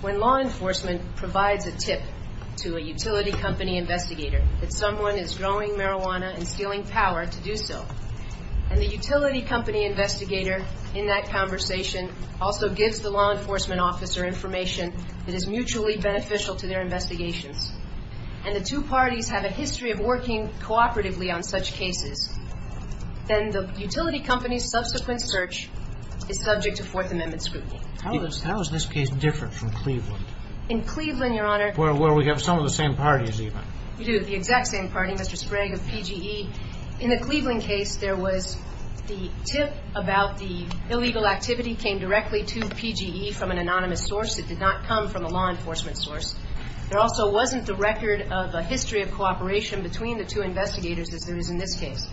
When law enforcement provides a tip to a utility company investigator that someone is growing marijuana and stealing power to do so, and the utility company investigator in that conversation also gives the law enforcement officer information that is mutually beneficial to their investigations, and the two parties have a history of working cooperatively on such cases, then the utility company's subsequent search is subject to Fourth Amendment scrutiny. How is this case different from Cleveland? In Cleveland, Your Honor, Where we have some of the same parties even. You do, the exact same party, Mr. Sprague of PGE. In the Cleveland case, there was the tip about the illegal activity came directly to PGE from an anonymous source. It did not come from a law enforcement source. There also wasn't the record of a history of cooperation between the two investigators as there is in this case.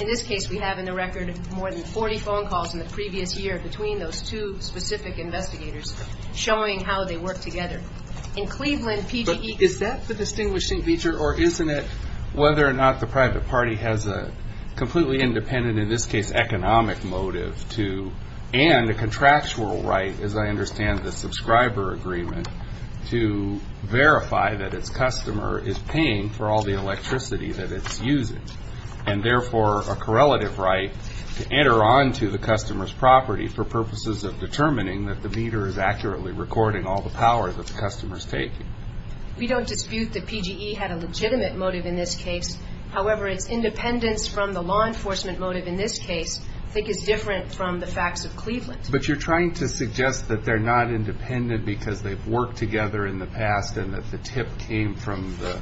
In this case, we have in the record more than 40 phone calls in the previous year between those two specific investigators showing how they work together. In Cleveland, PGE But is that the distinguishing feature, or isn't it whether or not the private party has a completely independent, in this case, economic motive to, and a contractual right, as I understand the subscriber agreement, to verify that its customer is paying for all the electricity that it's using, and therefore a correlative right to enter onto the customer's property for purposes of determining that the meter is accurately recording all the power that the customer is taking? We don't dispute that PGE had a legitimate motive in this case. However, its independence from the law enforcement motive in this case I think is different from the facts of Cleveland. But you're trying to suggest that they're not independent because they've worked together in the past and that the tip came from the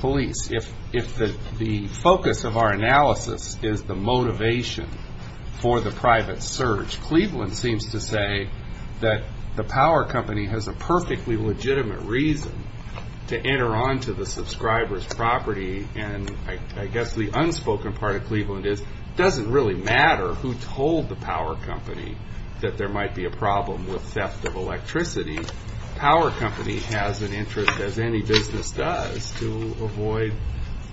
police. If the focus of our analysis is the motivation for the private surge, Cleveland seems to say that the power company has a perfectly legitimate reason to enter onto the subscriber's property, and I guess the unspoken part of Cleveland is it doesn't really matter who told the power company that there might be a problem with theft of electricity. The power company has an interest, as any business does, to avoid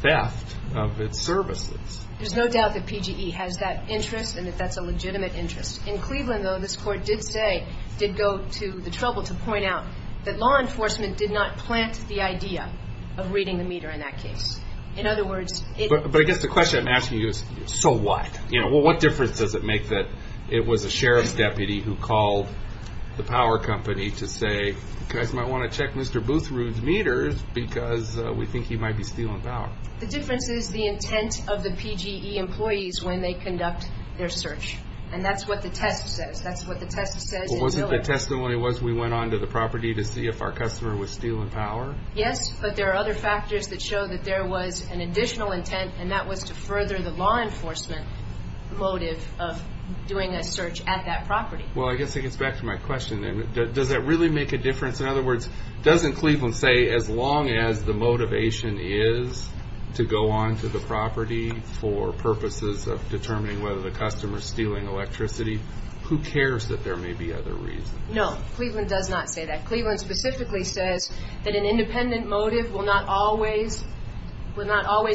theft of its services. There's no doubt that PGE has that interest and that that's a legitimate interest. In Cleveland, though, this court did say, did go to the trouble to point out that law enforcement did not plant the idea of reading the meter in that case. In other words, it- That's the question I'm asking you is, so what? What difference does it make that it was a sheriff's deputy who called the power company to say, you guys might want to check Mr. Boothrood's meters because we think he might be stealing power? The difference is the intent of the PGE employees when they conduct their search, and that's what the test says. That's what the test says. Wasn't the testimony was we went onto the property to see if our customer was stealing power? Yes, but there are other factors that show that there was an additional intent, and that was to further the law enforcement motive of doing a search at that property. Well, I guess it gets back to my question then. Does that really make a difference? In other words, doesn't Cleveland say, as long as the motivation is to go onto the property for purposes of determining whether the customer's stealing electricity, who cares that there may be other reasons? No, Cleveland does not say that. Cleveland specifically says that an independent motive will not always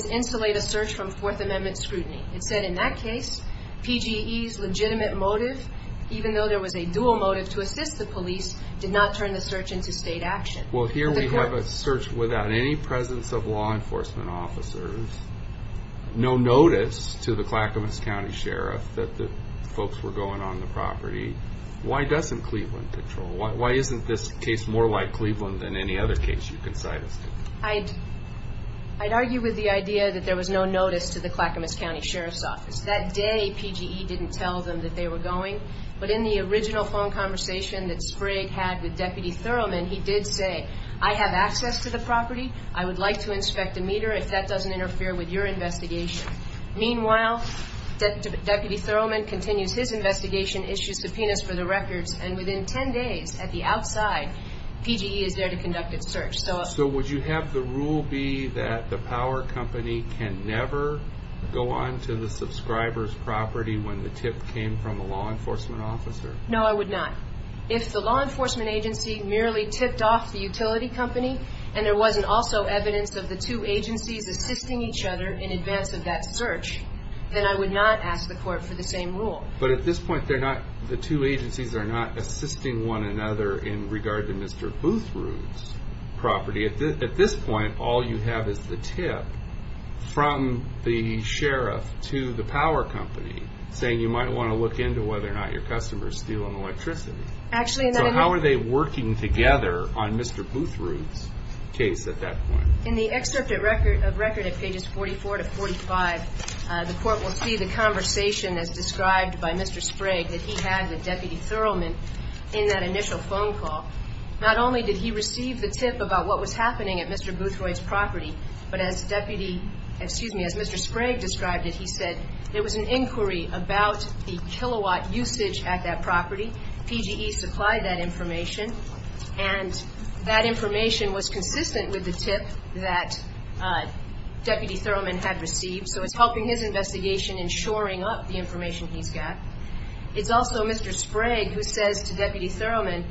insulate a search from Fourth Amendment scrutiny. It said in that case, PGE's legitimate motive, even though there was a dual motive to assist the police, did not turn the search into state action. Well, here we have a search without any presence of law enforcement officers, no notice to the Clackamas County Sheriff that the folks were going on the property. Why doesn't Cleveland control? Why isn't this case more like Cleveland than any other case you can cite us to? I'd argue with the idea that there was no notice to the Clackamas County Sheriff's Office. That day, PGE didn't tell them that they were going, but in the original phone conversation that Sprigg had with Deputy Thoroughman, he did say, I have access to the property. I would like to inspect a meter if that doesn't interfere with your investigation. Meanwhile, Deputy Thoroughman continues his investigation, issues subpoenas for the records, and within 10 days, at the outside, PGE is there to conduct its search. So would you have the rule be that the power company can never go on to the subscriber's property when the tip came from the law enforcement officer? No, I would not. If the law enforcement agency merely tipped off the utility company, and there wasn't also evidence of the two agencies assisting each other in advance of that search, then I would not ask the court for the same rule. But at this point, the two agencies are not assisting one another in regard to Mr. Boothroot's property. At this point, all you have is the tip from the sheriff to the power company, saying you might want to look into whether or not your customers steal an electricity. Actually, and then I mean... So how are they working together on Mr. Boothroot's case at that point? In the excerpt of record at pages 44 to 45, the court will see the conversation as described by Mr. Sprague that he had with Deputy Thoroughman in that initial phone call. Not only did he receive the tip about what was happening at Mr. Boothroot's property, but as Deputy, excuse me, as Mr. Sprague described it, he said there was an inquiry about the kilowatt usage at that property. PGE supplied that information, and that information was consistent with the tip that Deputy Thoroughman had received. So it's helping his investigation in shoring up the information he's got. It's also Mr. Sprague who says to Deputy Thoroughman,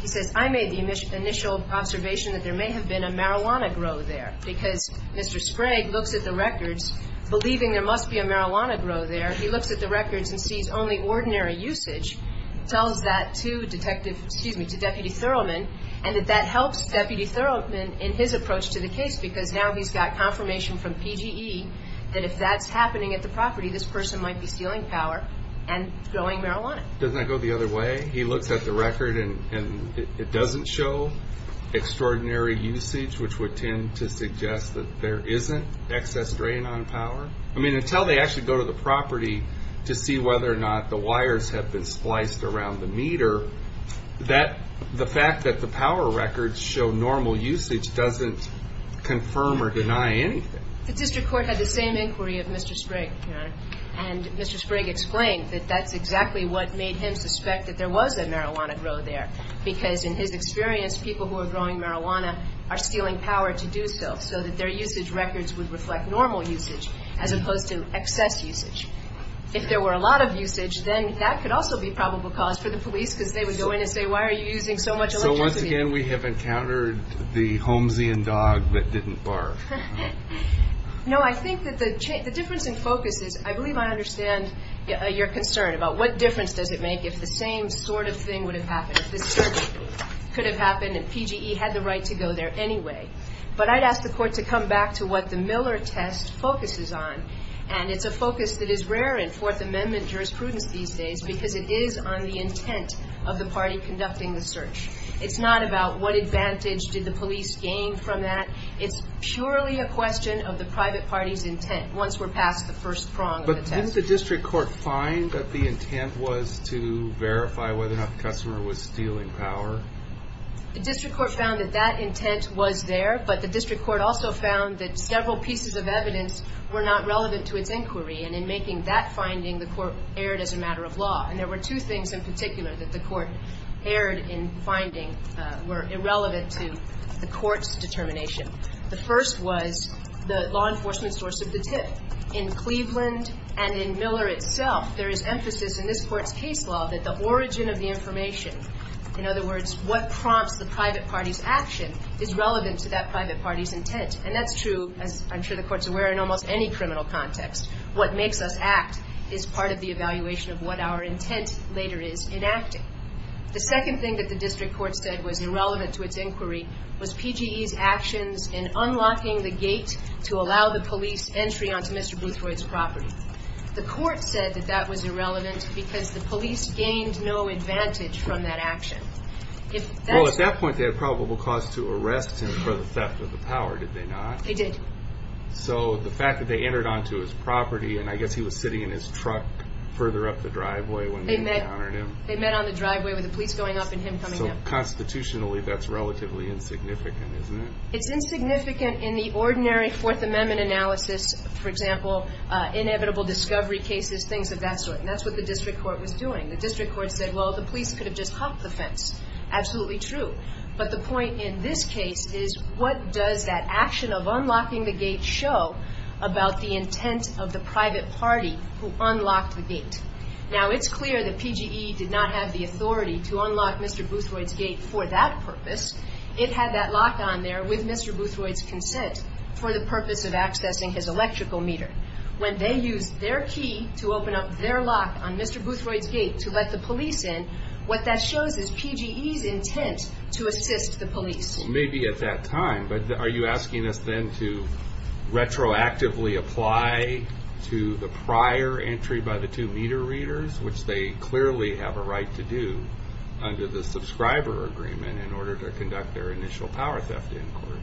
he says, I made the initial observation that there may have been a marijuana grow there, because Mr. Sprague looks at the records believing there must be a marijuana grow there. He looks at the records and sees only ordinary usage, tells that to Detective, excuse me, to Deputy Thoroughman, and that that helps Deputy Thoroughman in his approach to the case, because now he's got confirmation from PGE that if that's happening at the property, this person might be stealing power and growing marijuana. Doesn't that go the other way? He looks at the record and it doesn't show extraordinary usage, which would tend to suggest that there isn't excess drain on power. I mean, until they actually go to the property to see whether or not the wires have been spliced around the meter, that the fact that the power records show normal usage doesn't confirm or deny anything. The district court had the same inquiry of Mr. Sprague, Your Honor, and Mr. Sprague explained that that's exactly what made him suspect that there was a marijuana grow there, because in his experience, people who are growing marijuana are stealing power to do so, so that their usage records would reflect normal usage, as opposed to excess usage. If there were a lot of usage, then that could also be probable cause for the police, because they would go in and say, why are you using so much electricity? So once again, we have encountered the Holmesian dog that didn't barf. No, I think that the difference in focus is, I believe I understand your concern about what difference does it make if the same sort of thing would have happened, if this search could have happened and PGE had the right to go there anyway. But I'd ask the court to come back to what the Miller test focuses on, and it's a focus that is rare in Fourth Amendment jurisprudence these days, because it is on the intent of the party conducting the search. It's not about what advantage did the police gain from that. It's purely a question of the private party's intent, once we're past the first prong of the test. But didn't the district court find that the intent was to verify whether or not the customer was stealing power? The district court found that that intent was there, but the district court also found that several pieces of evidence were not relevant to its inquiry. And in making that finding, the court erred as a matter of law. And there were two things in particular that the court erred in finding were irrelevant to the court's determination. The first was the law enforcement source of the tip. In Cleveland and in Miller itself, there is emphasis in this court's case law that the origin of the information, in other words, what prompts the private party's action, is relevant to that private party's intent. And that's true, as I'm sure the court's aware, in almost any criminal context. What makes us act is part of the evaluation of what our intent later is in acting. The second thing that the district court said was irrelevant to its inquiry was PGE's actions in unlocking the gate to allow the police entry onto Mr. Bluthroyd's property. The court said that that was irrelevant because the police gained no advantage from that action. Well, at that point, they had probable cause to arrest him for the theft of the power, did they not? They did. So the fact that they entered onto his property, and I guess he was sitting in his truck further up the driveway when they encountered him. They met on the driveway with the police going up and him coming up. So constitutionally, that's relatively insignificant, isn't it? It's insignificant in the ordinary Fourth Amendment analysis, for example, inevitable discovery cases, things of that sort. And that's what the district court was doing. The district court said, well, the police could have just hopped the fence. Absolutely true. But the point in this case is, what does that action of unlocking the gate show about the intent of the private party who unlocked the gate? Now, it's clear that PGE did not have the authority to unlock Mr. Bluthroyd's gate for that purpose. It had that lock on there with Mr. Bluthroyd's consent for the purpose of accessing his electrical meter. When they used their key to open up their lock on Mr. Bluthroyd's gate to let the police in, what that shows is PGE's intent to assist the police. Maybe at that time, but are you asking us then to retroactively apply to the prior entry by the two meter readers, which they clearly have a right to do under the subscriber agreement in order to conduct their initial power theft inquiry?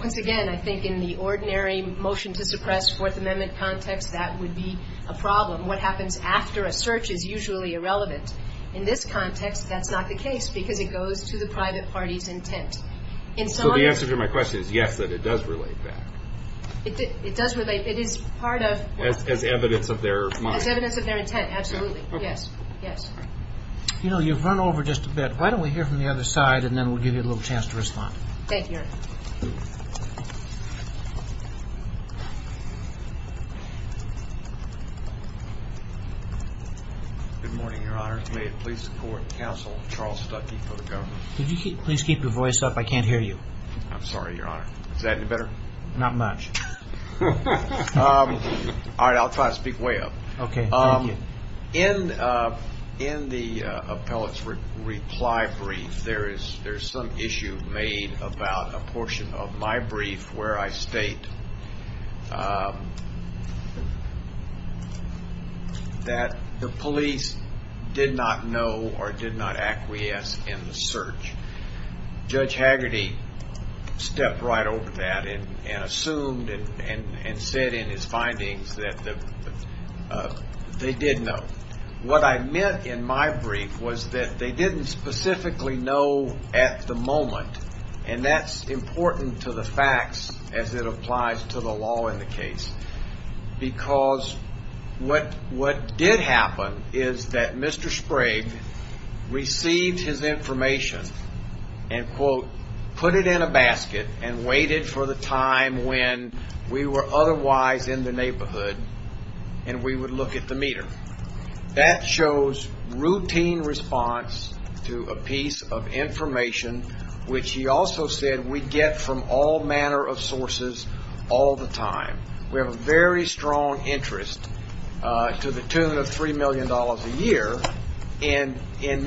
Once again, I think in the ordinary motion to suppress Fourth Amendment context, that would be a problem. What happens after a search is usually irrelevant. In this context, that's not the case because it goes to the private party's intent. So the answer to my question is, yes, that it does relate back. It does relate. It is part of- As evidence of their- As evidence of their intent. Absolutely. Yes. Yes. You know, you've run over just a bit. Why don't we hear from the other side and then we'll give you a little chance to respond. Thank you, Your Honor. Good morning, Your Honor. May it please the court, Counsel Charles Stuckey for the government. Could you please keep your voice up? I can't hear you. I'm sorry, Your Honor. Is that any better? Not much. All right. I'll try to speak way up. Okay. Thank you. In the appellate's reply brief, there's some issue made about a portion of my brief where I state that the police did not know or did not acquiesce in the search. Judge Haggerty stepped right over that and assumed and said in his findings that they did know. What I meant in my brief was that they didn't specifically know at the moment, and that's important to the facts as it applies to the law in the case, because what did happen is that Mr. Sprague received his information and, quote, put it in a basket and waited for the time when we were otherwise in the neighborhood and we would look at the meter. That shows routine response to a piece of information, which he also said we get from all manner of sources all the time. We have a very strong interest to the tune of $3 million a year in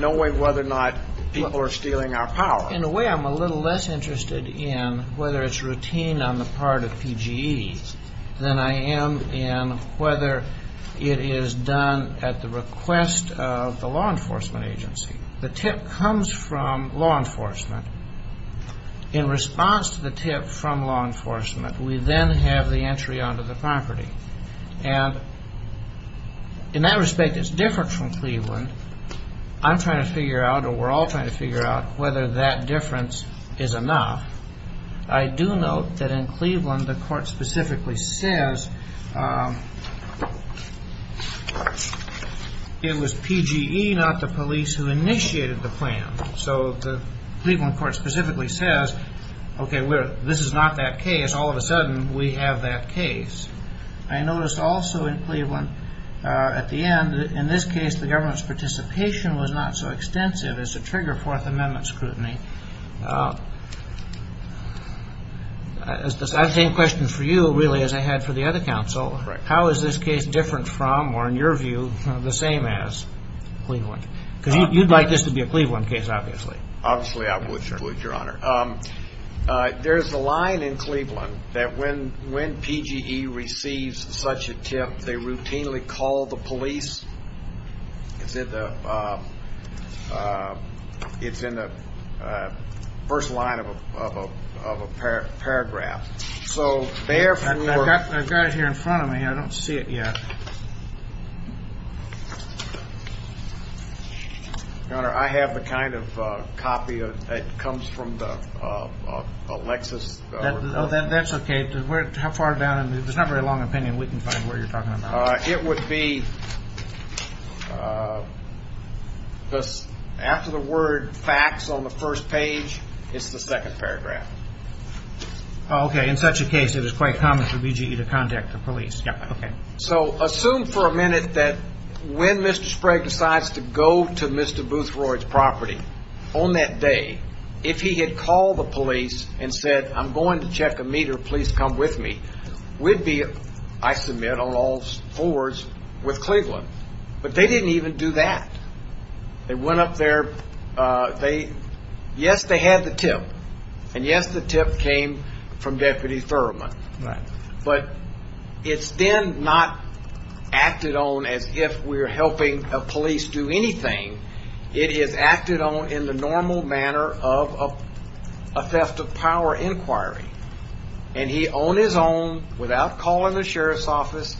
knowing whether or not people are stealing our power. In a way, I'm a little less interested in whether it's routine on the part of PGEs than I am in whether it is done at the request of the law enforcement agency. The tip comes from law enforcement. In response to the tip from law enforcement, we then have the entry onto the property. And in that respect, it's different from Cleveland. I'm trying to figure out or we're all trying to figure out whether that difference is enough. I do note that in Cleveland, the court specifically says it was PGE, not the police, who initiated the plan. So the Cleveland court specifically says, okay, this is not that case. All of a sudden, we have that case. I noticed also in Cleveland at the end, in this case, the government's participation was not so extensive as to trigger Fourth Amendment scrutiny. I have the same question for you, really, as I had for the other counsel. How is this case different from or, in your view, the same as Cleveland? Because you'd like this to be a Cleveland case, obviously. Obviously, I would, Your Honor. There's a line in Cleveland that when PGE receives such a tip, they routinely call the police. It's in the first line of a paragraph. I've got it here in front of me. I don't see it yet. Your Honor, I have the kind of copy that comes from the Lexus. That's okay. How far down? It's not a very long opinion. We can find where you're talking about. It would be after the word facts on the first page, it's the second paragraph. Okay. In such a case, it is quite common for PGE to contact the police. Okay. Assume for a minute that when Mr. Sprague decides to go to Mr. Boothroyd's property, on that day, if he had called the police and said, I'm going to check a meter, please come with me, we'd be, I submit, on all fours with Cleveland. But they didn't even do that. They went up there. Yes, they had the tip. And yes, the tip came from Deputy Thurman. But it's then not acted on as if we're helping a police do anything. It is acted on in the normal manner of a theft of power inquiry. And he on his own, without calling the sheriff's office,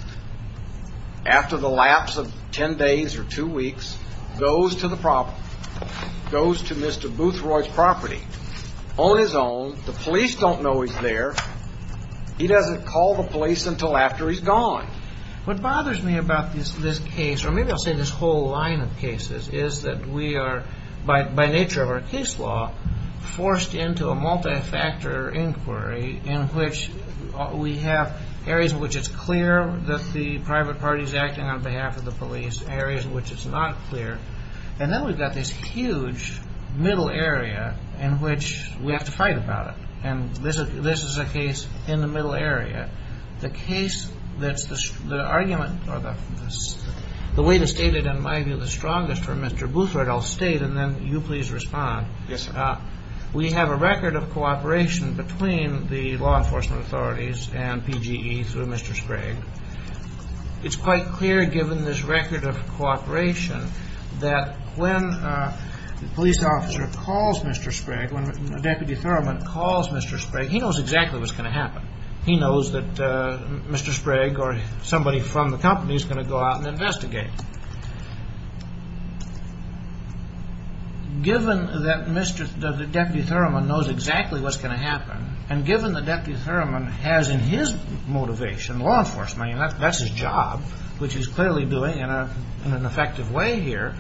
after the lapse of ten days or two weeks, goes to the property, goes to Mr. Boothroyd's property on his own. The police don't know he's there. He doesn't call the police until after he's gone. What bothers me about this case, or maybe I'll say this whole line of cases, is that we are, by nature of our case law, forced into a multi-factor inquiry in which we have areas in which it's clear that the private party is acting on behalf of the police, areas in which it's not clear. And then we've got this huge middle area in which we have to fight about it. And this is a case in the middle area. The case that's the argument, or the way to state it in my view, the strongest for Mr. Boothroyd, I'll state and then you please respond. Yes, sir. We have a record of cooperation between the law enforcement authorities and PGE through Mr. Sprague. It's quite clear, given this record of cooperation, that when a police officer calls Mr. Sprague, when Deputy Thurman calls Mr. Sprague, he knows exactly what's going to happen. He knows that Mr. Sprague or somebody from the company is going to go out and investigate. Given that Deputy Thurman knows exactly what's going to happen, and given that Deputy Thurman has in his motivation law enforcement, and that's his job, which he's clearly doing in an effective way here,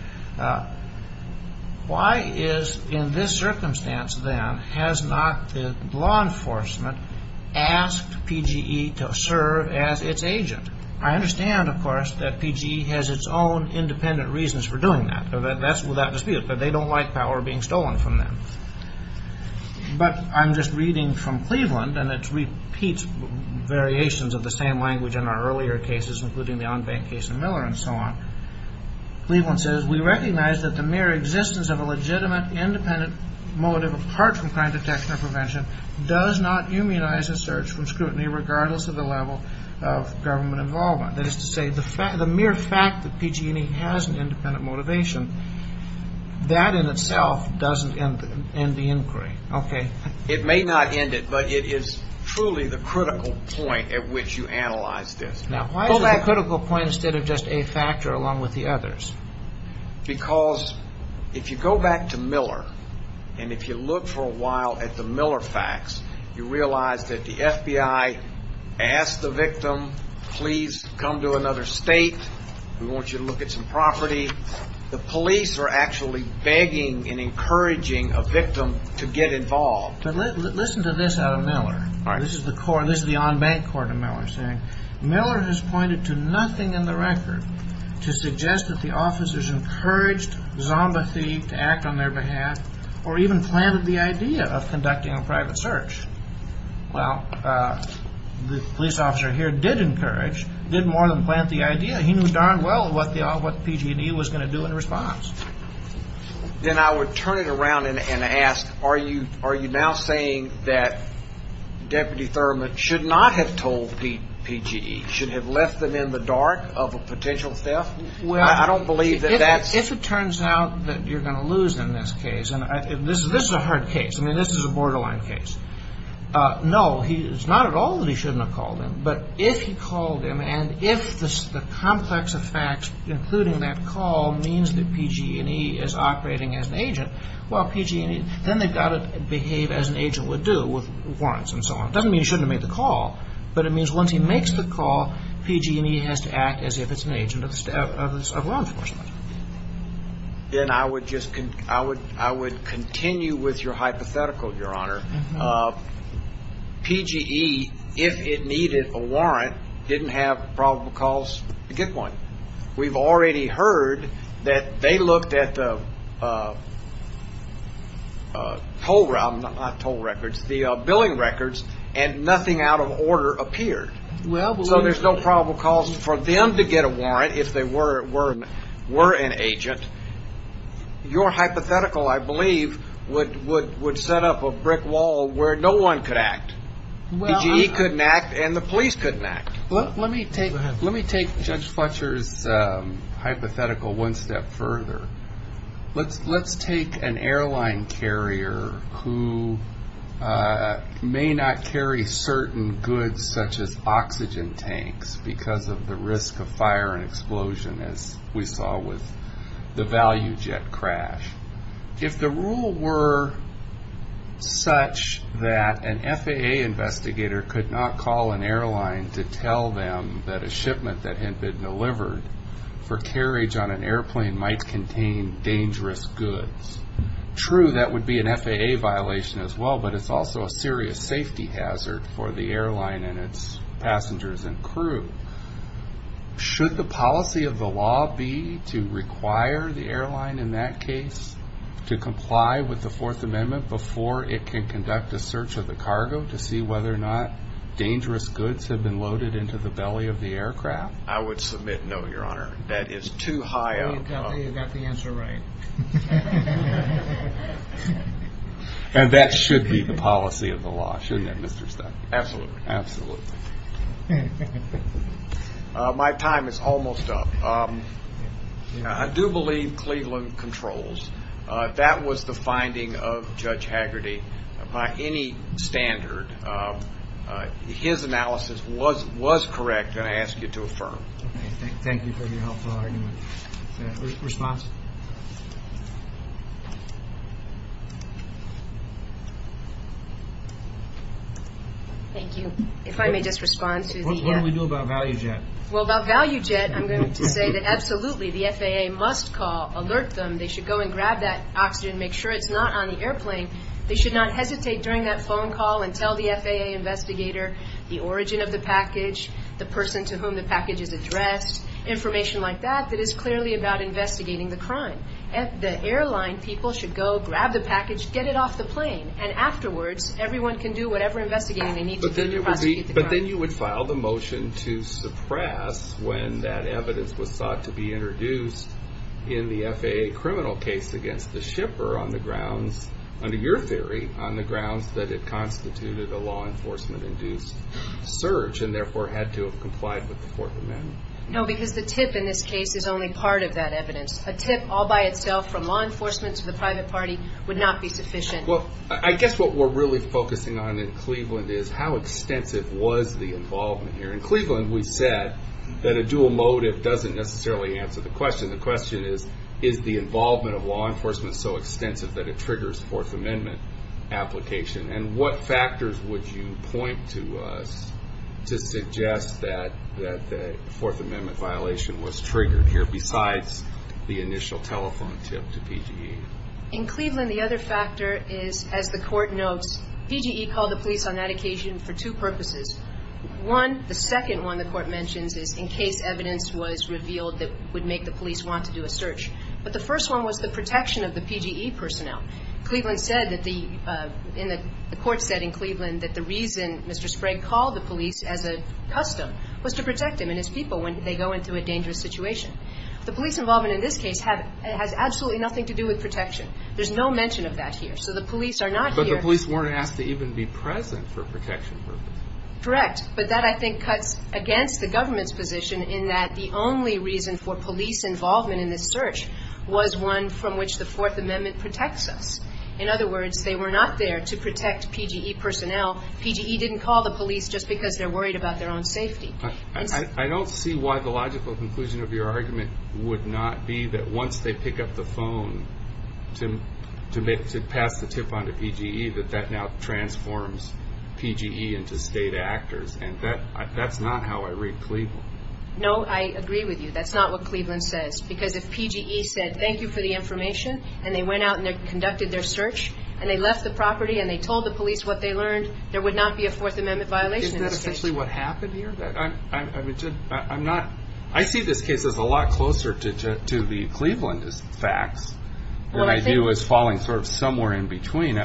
why is, in this circumstance then, has not the law enforcement asked PGE to serve as its agent? I understand, of course, that PGE has its own independent reasons for doing that. That's without dispute. But they don't like power being stolen from them. But I'm just reading from Cleveland, and it repeats variations of the same language in our earlier cases, including the on-bank case in Miller and so on. Cleveland says, We recognize that the mere existence of a legitimate, independent motive, apart from crime detection or prevention, does not immunize a search from scrutiny, regardless of the level of government involvement. That is to say, the mere fact that PG&E has an independent motivation, that in itself doesn't end the inquiry. Okay. It may not end it, but it is truly the critical point at which you analyze this. Now, why is it the critical point instead of just a factor along with the others? Because if you go back to Miller, and if you look for a while at the Miller facts, you realize that the FBI asked the victim, Please come to another state. We want you to look at some property. The police are actually begging and encouraging a victim to get involved. Listen to this out of Miller. All right. This is the on-bank court of Miller saying, Miller has pointed to nothing in the record to suggest that the officers encouraged Zomba Thief to act on their behalf or even planted the idea of conducting a private search. Well, the police officer here did encourage, did more than plant the idea. He knew darn well what PG&E was going to do in response. Then I would turn it around and ask, Are you now saying that Deputy Thurman should not have told PG&E, should have left them in the dark of a potential theft? Well, if it turns out that you're going to lose in this case, and this is a hard case. I mean, this is a borderline case. No, it's not at all that he shouldn't have called them. But if he called them, and if the complex effect, including that call, means that PG&E is operating as an agent, well, PG&E, then they've got to behave as an agent would do with warrants and so on. It doesn't mean he shouldn't have made the call, but it means once he makes the call, PG&E has to act as if it's an agent of law enforcement. Then I would just, I would continue with your hypothetical, Your Honor. PG&E, if it needed a warrant, didn't have probable cause to get one. We've already heard that they looked at the toll records, the billing records, and nothing out of order appeared. So there's no probable cause for them to get a warrant if they were an agent. Your hypothetical, I believe, would set up a brick wall where no one could act. PG&E couldn't act, and the police couldn't act. Let me take Judge Fletcher's hypothetical one step further. Let's take an airline carrier who may not carry certain goods such as oxygen tanks because of the risk of fire and explosion, as we saw with the value jet crash. If the rule were such that an FAA investigator could not call an airline to tell them that a shipment that had been delivered for carriage on an airplane might contain dangerous goods, true, that would be an FAA violation as well, but it's also a serious safety hazard for the airline and its passengers and crew. Should the policy of the law be to require the airline in that case to comply with the Fourth Amendment before it can conduct a search of the cargo to see whether or not dangerous goods have been loaded into the belly of the aircraft? I would submit no, Your Honor. That is too high of a problem. I tell you, you got the answer right. And that should be the policy of the law, shouldn't it, Mr. Stein? Absolutely. Absolutely. My time is almost up. I do believe Cleveland controls. That was the finding of Judge Haggerty by any standard. His analysis was correct, and I ask you to affirm. Thank you for your helpful argument. Response? Thank you. If I may just respond to the… What do we do about ValueJet? Well, about ValueJet, I'm going to say that absolutely the FAA must call, alert them. They should go and grab that oxygen, make sure it's not on the airplane. They should not hesitate during that phone call and tell the FAA investigator the origin of the package, the person to whom the package is addressed, information like that that is clearly about investigating the crime. The airline people should go, grab the package, get it off the plane, and afterwards everyone can do whatever investigating they need to do to prosecute the crime. But then you would file the motion to suppress when that evidence was sought to be introduced in the FAA criminal case against the shipper on the grounds, under your theory, on the grounds that it constituted a law enforcement-induced surge and therefore had to have complied with the Fourth Amendment. No, because the tip in this case is only part of that evidence. A tip all by itself from law enforcement to the private party would not be sufficient. Well, I guess what we're really focusing on in Cleveland is how extensive was the involvement here. In Cleveland, we said that a dual motive doesn't necessarily answer the question. The question is, is the involvement of law enforcement so extensive that it triggers Fourth Amendment application? And what factors would you point to us to suggest that the Fourth Amendment violation was triggered here besides the initial telephone tip to PGE? In Cleveland, the other factor is, as the Court notes, PGE called the police on that occasion for two purposes. One, the second one the Court mentions is in case evidence was revealed that would make the police want to do a search. But the first one was the protection of the PGE personnel. Cleveland said that the – the Court said in Cleveland that the reason Mr. Sprague called the police as a custom was to protect him and his people when they go into a dangerous situation. The police involvement in this case has absolutely nothing to do with protection. There's no mention of that here. So the police are not here. The police weren't asked to even be present for protection purposes. Correct. But that, I think, cuts against the government's position in that the only reason for police involvement in this search was one from which the Fourth Amendment protects us. In other words, they were not there to protect PGE personnel. PGE didn't call the police just because they're worried about their own safety. I don't see why the logical conclusion of your argument would not be that once they pick up the phone to pass the tip on to PGE that that now transforms PGE into state actors. And that's not how I read Cleveland. No, I agree with you. That's not what Cleveland says. Because if PGE said thank you for the information and they went out and conducted their search and they left the property and they told the police what they learned, there would not be a Fourth Amendment violation in this case. Is that essentially what happened here? I see this case as a lot closer to the Clevelandist facts than I do as falling sort of somewhere in between.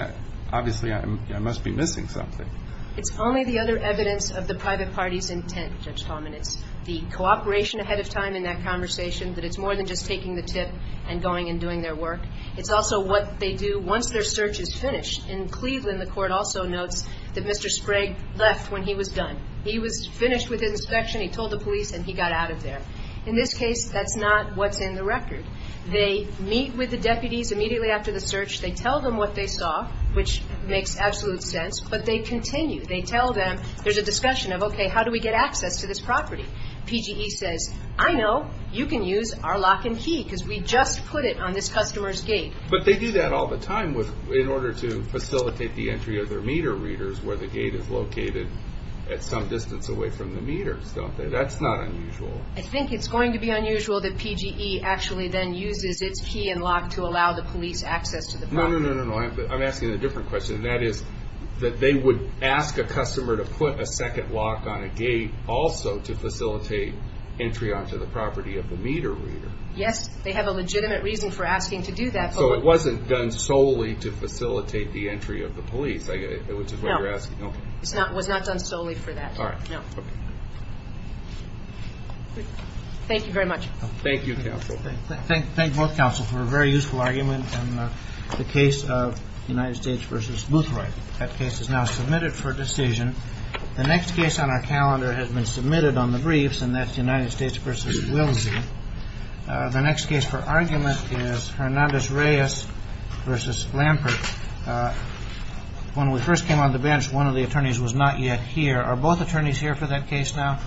Obviously, I must be missing something. It's only the other evidence of the private party's intent, Judge Talman. It's the cooperation ahead of time in that conversation that it's more than just taking the tip and going and doing their work. It's also what they do once their search is finished. In Cleveland, the court also notes that Mr. Sprague left when he was done. He was finished with his inspection. He told the police and he got out of there. In this case, that's not what's in the record. They meet with the deputies immediately after the search. They tell them what they saw, which makes absolute sense, but they continue. They tell them there's a discussion of, okay, how do we get access to this property? PGE says, I know. You can use our lock and key because we just put it on this customer's gate. But they do that all the time in order to facilitate the entry of their meter readers where the gate is located at some distance away from the meters, don't they? That's not unusual. I think it's going to be unusual that PGE actually then uses its key and lock to allow the police access to the property. No, no, no, no, no. I'm asking a different question, and that is that they would ask a customer to put a second lock on a gate also to facilitate entry onto the property of the meter reader. Yes, they have a legitimate reason for asking to do that. So it wasn't done solely to facilitate the entry of the police, which is why you're asking. No. It was not done solely for that. All right. No. Thank you very much. Thank you, counsel. Thank both counsel for a very useful argument in the case of United States v. Boothroyd. That case is now submitted for decision. The next case on our calendar has been submitted on the briefs, and that's United States v. Wilsey. The next case for argument is Hernandez-Reyes v. Lampert. When we first came on the bench, one of the attorneys was not yet here. Are both attorneys here for that case now? Okay.